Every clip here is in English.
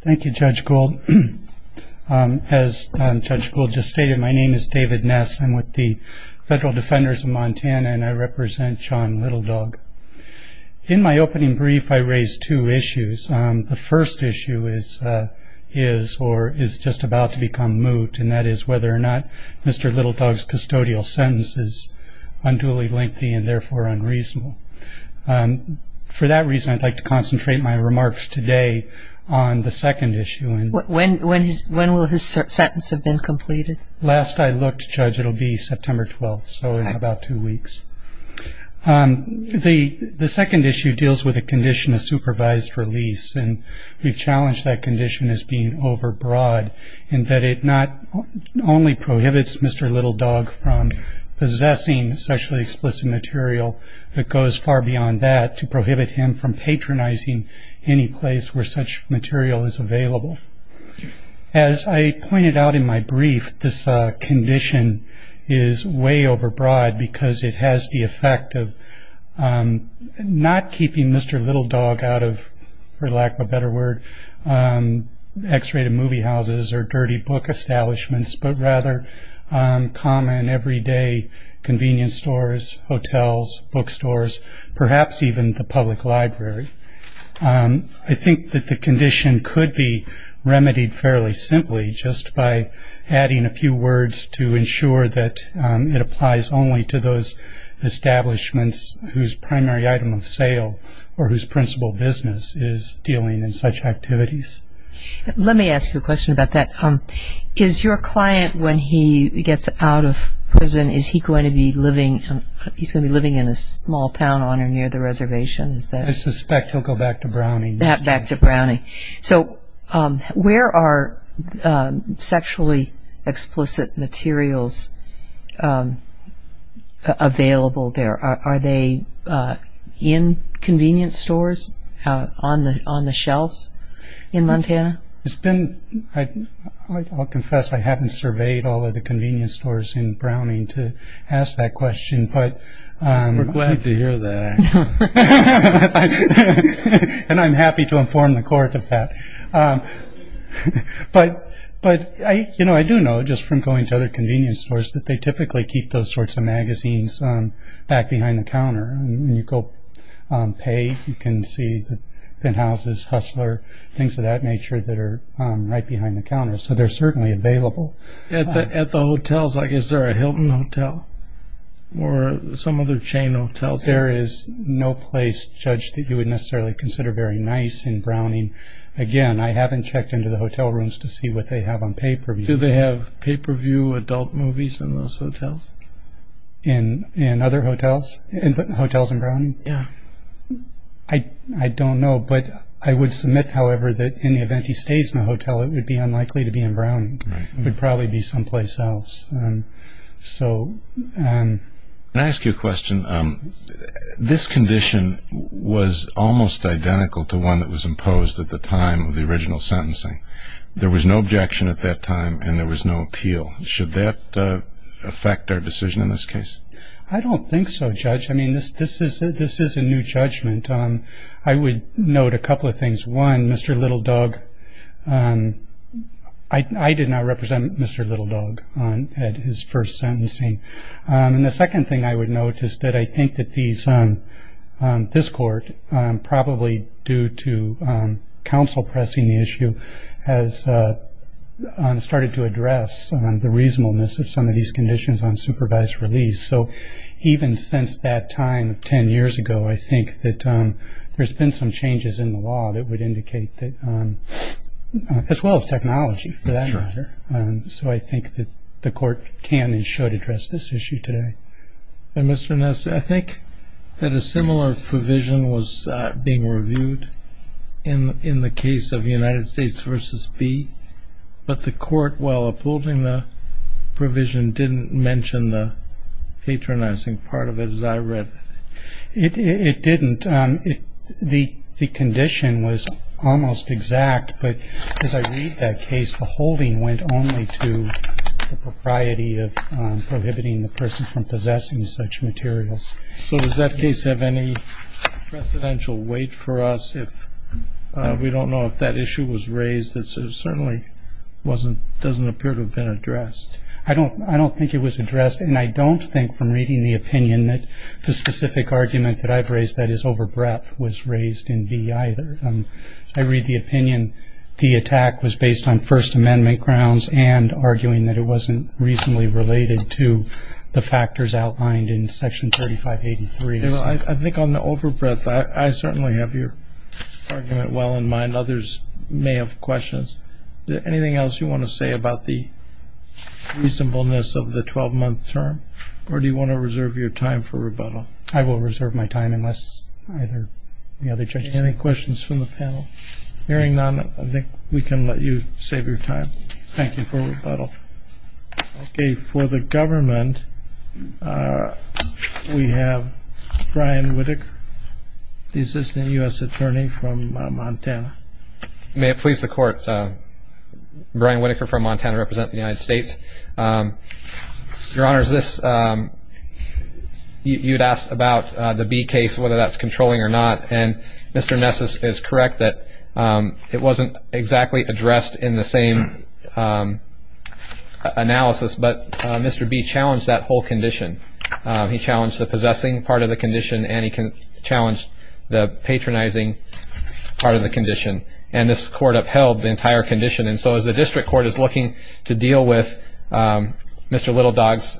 Thank you, Judge Gould. As Judge Gould just stated, my name is David Ness. I'm with the Federal Defenders of Montana, and I represent John Little Dog. In my opening brief, I raised two issues. The first issue is or is just about to become moot, and that is whether or not Mr. Little Dog's custodial sentence is unduly lengthy and therefore unreasonable. For that reason, I'd like to concentrate my remarks today on the second issue. When will his sentence have been completed? Last I looked, Judge, it'll be September 12th, so in about two weeks. The second issue deals with a condition of supervised release, and we've challenged that condition as being overbroad in that it not only prohibits Mr. Little Dog from possessing sexually explicit material, it goes far beyond that to prohibit him from patronizing any place where such material is available. As I pointed out in my brief, this condition is way overbroad because it has the effect of not keeping Mr. Little Dog out of, for lack of a better word, X-rated movie houses or dirty book establishments, but rather common everyday convenience stores, hotels, bookstores, perhaps even the public library. I think that the condition could be remedied fairly simply just by adding a few words to ensure that it applies only to those establishments whose primary item of sale or whose principal business is dealing in such activities. Let me ask you a question about that. Is your client, when he gets out of prison, is he going to be living in a small town on or near the reservation? I suspect he'll go back to Browning. Back to Browning. Where are sexually explicit materials available there? Are they in convenience stores on the shelves in Montana? I'll confess I haven't surveyed all of the convenience stores in Browning to ask that question. We're glad to hear that. And I'm happy to inform the court of that. But I do know, just from going to other convenience stores, that they typically keep those sorts of magazines back behind the counter. When you go pay, you can see the penthouses, Hustler, things of that nature, that are right behind the counter. So they're certainly available. At the hotels, is there a Hilton Hotel or some other chain hotels? There is no place, Judge, that you would necessarily consider very nice in Browning. Again, I haven't checked into the hotel rooms to see what they have on pay-per-view. Do they have pay-per-view adult movies in those hotels? In other hotels? Hotels in Browning? Yeah. I don't know. But I would submit, however, that in the event he stays in a hotel, it would be unlikely to be in Browning. It would probably be someplace else. Can I ask you a question? This condition was almost identical to one that was imposed at the time of the original sentencing. There was no objection at that time, and there was no appeal. Should that affect our decision in this case? I don't think so, Judge. I mean, this is a new judgment. I would note a couple of things. One, Mr. Littledug, I did not represent Mr. Littledug at his first sentencing. And the second thing I would note is that I think that this court, probably due to counsel pressing the issue, has started to address the reasonableness of some of these conditions on supervised release. So even since that time 10 years ago, I think that there's been some changes in the law that would indicate that, as well as technology for that matter. So I think that the court can and should address this issue today. And, Mr. Ness, I think that a similar provision was being reviewed in the case of United States v. B. But the court, while upholding the provision, didn't mention the patronizing part of it, as I read. It didn't. The condition was almost exact, but as I read that case, the holding went only to the propriety of prohibiting the person from possessing such materials. So does that case have any precedential weight for us? If we don't know if that issue was raised, it certainly doesn't appear to have been addressed. I don't think it was addressed. And I don't think, from reading the opinion, that the specific argument that I've raised that is over breadth was raised in v. either. I read the opinion the attack was based on First Amendment grounds and arguing that it wasn't reasonably related to the factors outlined in Section 3583. I think on the over breadth, I certainly have your argument well in mind. Others may have questions. Anything else you want to say about the reasonableness of the 12-month term, or do you want to reserve your time for rebuttal? I will reserve my time unless either of the other judges. Any questions from the panel? Hearing none, I think we can let you save your time. Thank you for rebuttal. Okay. For the government, we have Brian Whitaker, the Assistant U.S. Attorney from Montana. May it please the Court, Brian Whitaker from Montana, representing the United States. Your Honor, you had asked about the B case, whether that's controlling or not, and Mr. Nessus is correct that it wasn't exactly addressed in the same analysis, but Mr. B challenged that whole condition. He challenged the possessing part of the condition and he challenged the patronizing part of the condition, and this court upheld the entire condition. And so as the district court is looking to deal with Mr. Little Dog's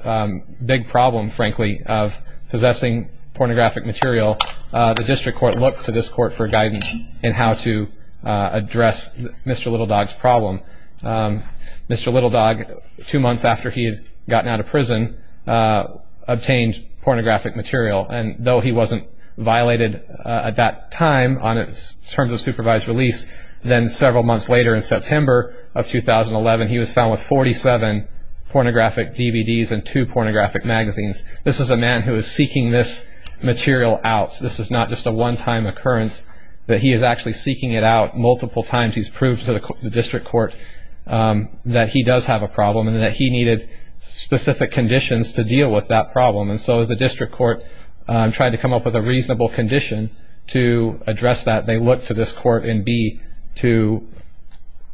big problem, frankly, of possessing pornographic material, the district court looked to this court for guidance in how to address Mr. Little Dog's problem. Mr. Little Dog, two months after he had gotten out of prison, obtained pornographic material, and though he wasn't violated at that time in terms of supervised release, then several months later in September of 2011, he was found with 47 pornographic DVDs and two pornographic magazines. This is a man who is seeking this material out. This is not just a one-time occurrence, but he is actually seeking it out multiple times. He's proved to the district court that he does have a problem and that he needed specific conditions to deal with that problem. And so as the district court tried to come up with a reasonable condition to address that, they looked to this court in B to...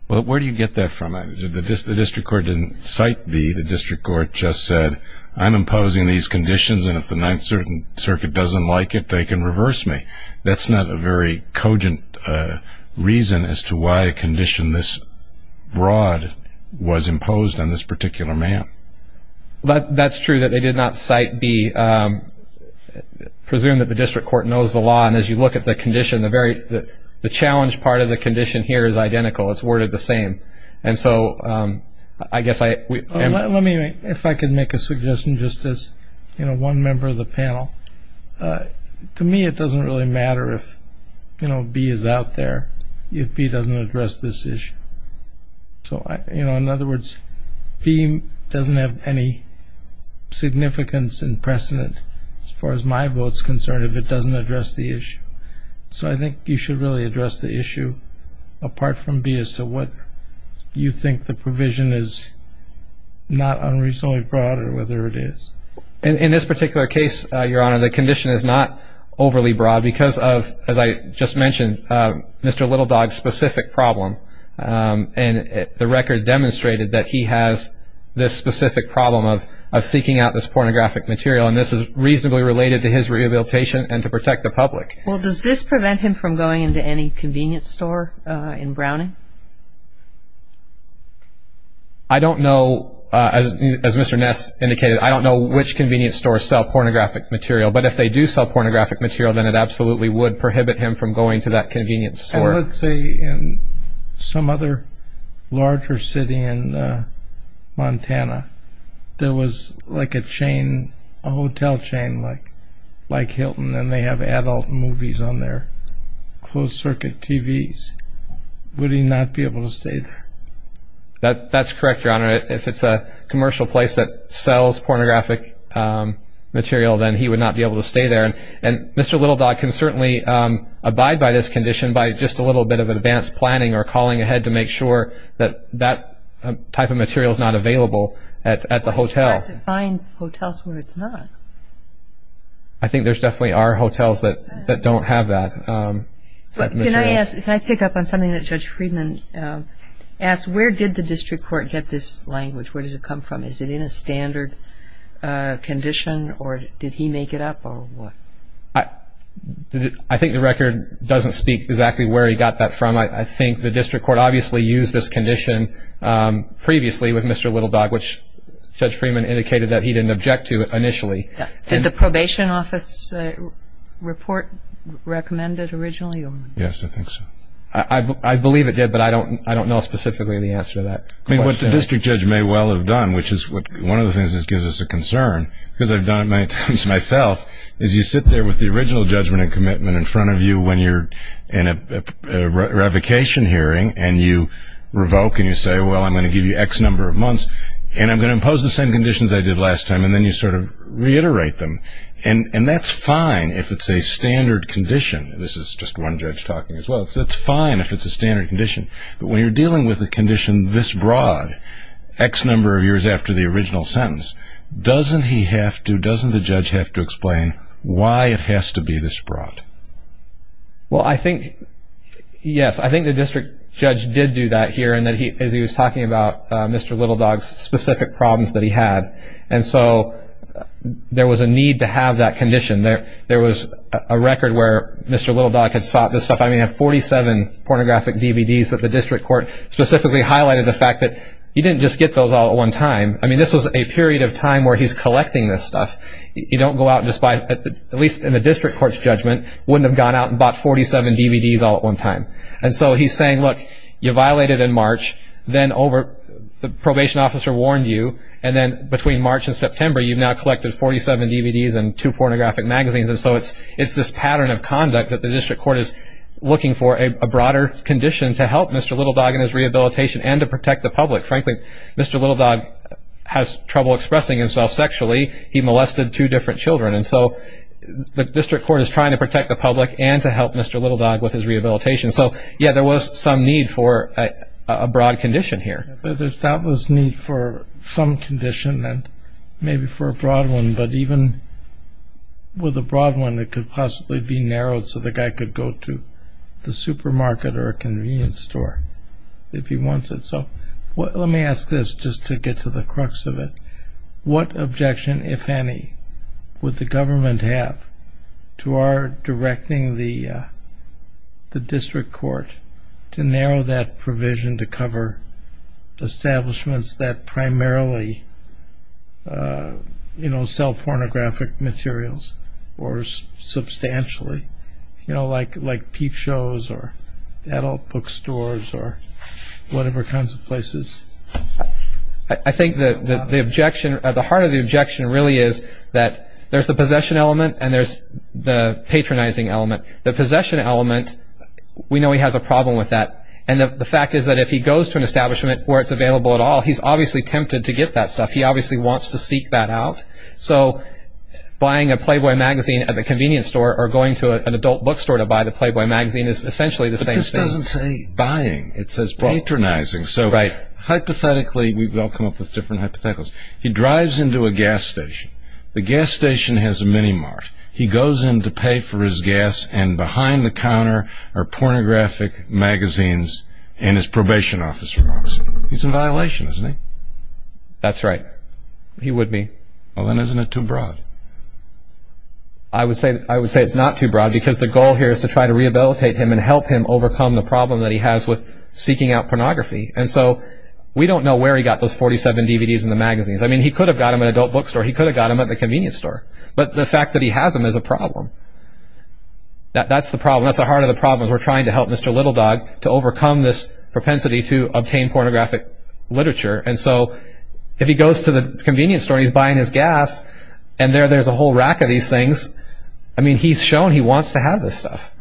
Well, where do you get that from? The district court didn't cite B. The district court just said, I'm imposing these conditions, and if the Ninth Circuit doesn't like it, they can reverse me. That's not a very cogent reason as to why a condition this broad was imposed on this particular man. That's true that they did not cite B. Presume that the district court knows the law, and as you look at the condition, the challenge part of the condition here is identical. It's worded the same. And so I guess I... Let me, if I could make a suggestion just as one member of the panel. To me, it doesn't really matter if B is out there, if B doesn't address this issue. So, you know, in other words, B doesn't have any significance and precedent as far as my vote is concerned if it doesn't address the issue. So I think you should really address the issue apart from B as to whether you think the provision is not unreasonably broad or whether it is. In this particular case, Your Honor, the condition is not overly broad because of, as I just mentioned, Mr. Little Dog's specific problem, and the record demonstrated that he has this specific problem of seeking out this pornographic material, and this is reasonably related to his rehabilitation and to protect the public. Well, does this prevent him from going into any convenience store in Browning? I don't know. As Mr. Ness indicated, I don't know which convenience stores sell pornographic material, but if they do sell pornographic material, then it absolutely would prohibit him from going to that convenience store. And let's say in some other larger city in Montana, there was like a chain, a hotel chain like Hilton, and they have adult movies on their closed-circuit TVs. Would he not be able to stay there? That's correct, Your Honor. If it's a commercial place that sells pornographic material, then he would not be able to stay there. And Mr. Little Dog can certainly abide by this condition by just a little bit of advanced planning or calling ahead to make sure that that type of material is not available at the hotel. Why does he have to find hotels where it's not? I think there definitely are hotels that don't have that material. Can I pick up on something that Judge Friedman asked? Where did the district court get this language? Where does it come from? Is it in a standard condition, or did he make it up, or what? I think the record doesn't speak exactly where he got that from. I think the district court obviously used this condition previously with Mr. Little Dog, which Judge Friedman indicated that he didn't object to initially. Did the probation office report recommend it originally? Yes, I think so. I believe it did, but I don't know specifically the answer to that question. What the district judge may well have done, which is one of the things that gives us a concern, because I've done it many times myself, is you sit there with the original judgment and commitment in front of you when you're in a revocation hearing, and you revoke and you say, well, I'm going to give you X number of months, and I'm going to impose the same conditions I did last time, and then you sort of reiterate them. And that's fine if it's a standard condition. This is just one judge talking as well. It's fine if it's a standard condition. But when you're dealing with a condition this broad, X number of years after the original sentence, doesn't he have to, doesn't the judge have to explain why it has to be this broad? Well, I think, yes, I think the district judge did do that here, as he was talking about Mr. Little Dog's specific problems that he had. And so there was a need to have that condition. There was a record where Mr. Little Dog had sought this stuff. I mean, he had 47 pornographic DVDs that the district court specifically highlighted the fact that he didn't just get those all at one time. I mean, this was a period of time where he's collecting this stuff. You don't go out and just buy, at least in the district court's judgment, wouldn't have gone out and bought 47 DVDs all at one time. And so he's saying, look, you violated in March, then over, the probation officer warned you, and then between March and September you've now collected 47 DVDs and two pornographic magazines. And so it's this pattern of conduct that the district court is looking for, a broader condition to help Mr. Little Dog in his rehabilitation and to protect the public. Frankly, Mr. Little Dog has trouble expressing himself sexually. He molested two different children. And so the district court is trying to protect the public and to help Mr. Little Dog with his rehabilitation. So, yes, there was some need for a broad condition here. There's doubtless need for some condition and maybe for a broad one, but even with a broad one it could possibly be narrowed so the guy could go to the supermarket or a convenience store if he wants it. So let me ask this just to get to the crux of it. What objection, if any, would the government have to our directing the district court to narrow that provision to cover establishments that primarily sell pornographic materials or substantially, like peep shows or adult bookstores or whatever kinds of places? I think the heart of the objection really is that there's the possession element and there's the patronizing element. The possession element, we know he has a problem with that. And the fact is that if he goes to an establishment where it's available at all, he's obviously tempted to get that stuff. He obviously wants to seek that out. So buying a Playboy magazine at the convenience store or going to an adult bookstore to buy the Playboy magazine is essentially the same thing. But this doesn't say buying. It says patronizing. So hypothetically, we've all come up with different hypotheticals. He drives into a gas station. The gas station has a mini mart. He goes in to pay for his gas, and behind the counter are pornographic magazines and his probation officer walks in. He's in violation, isn't he? That's right. He would be. Well, then isn't it too broad? I would say it's not too broad because the goal here is to try to rehabilitate him and help him overcome the problem that he has with seeking out pornography. And so we don't know where he got those 47 DVDs and the magazines. I mean, he could have got them at an adult bookstore. He could have got them at the convenience store. But the fact that he has them is a problem. That's the problem. That's the heart of the problem is we're trying to help Mr. Little Dog to overcome this propensity to obtain pornographic literature. And so if he goes to the convenience store, he's buying his gas, and there there's a whole rack of these things. I mean, he's shown he wants to have this stuff.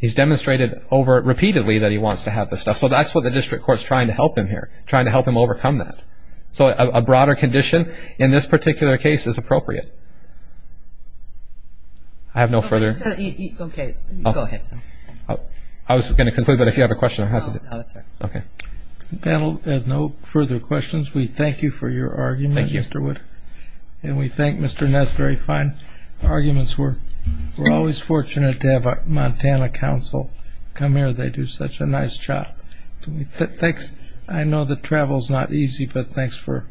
He's demonstrated repeatedly that he wants to have this stuff. So that's what the district court is trying to help him here, trying to help him overcome that. So a broader condition in this particular case is appropriate. I have no further. Okay. Go ahead. I was going to conclude, but if you have a question, I'm happy to. Oh, that's all right. Okay. The panel has no further questions. We thank you for your argument, Mr. Wood. Thank you. And we thank Mr. Ness very fine. Arguments work. We're always fortunate to have a Montana council come here. They do such a nice job. Thanks. I know that travel is not easy, but thanks for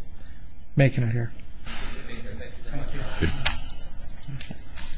making it here. Thank you.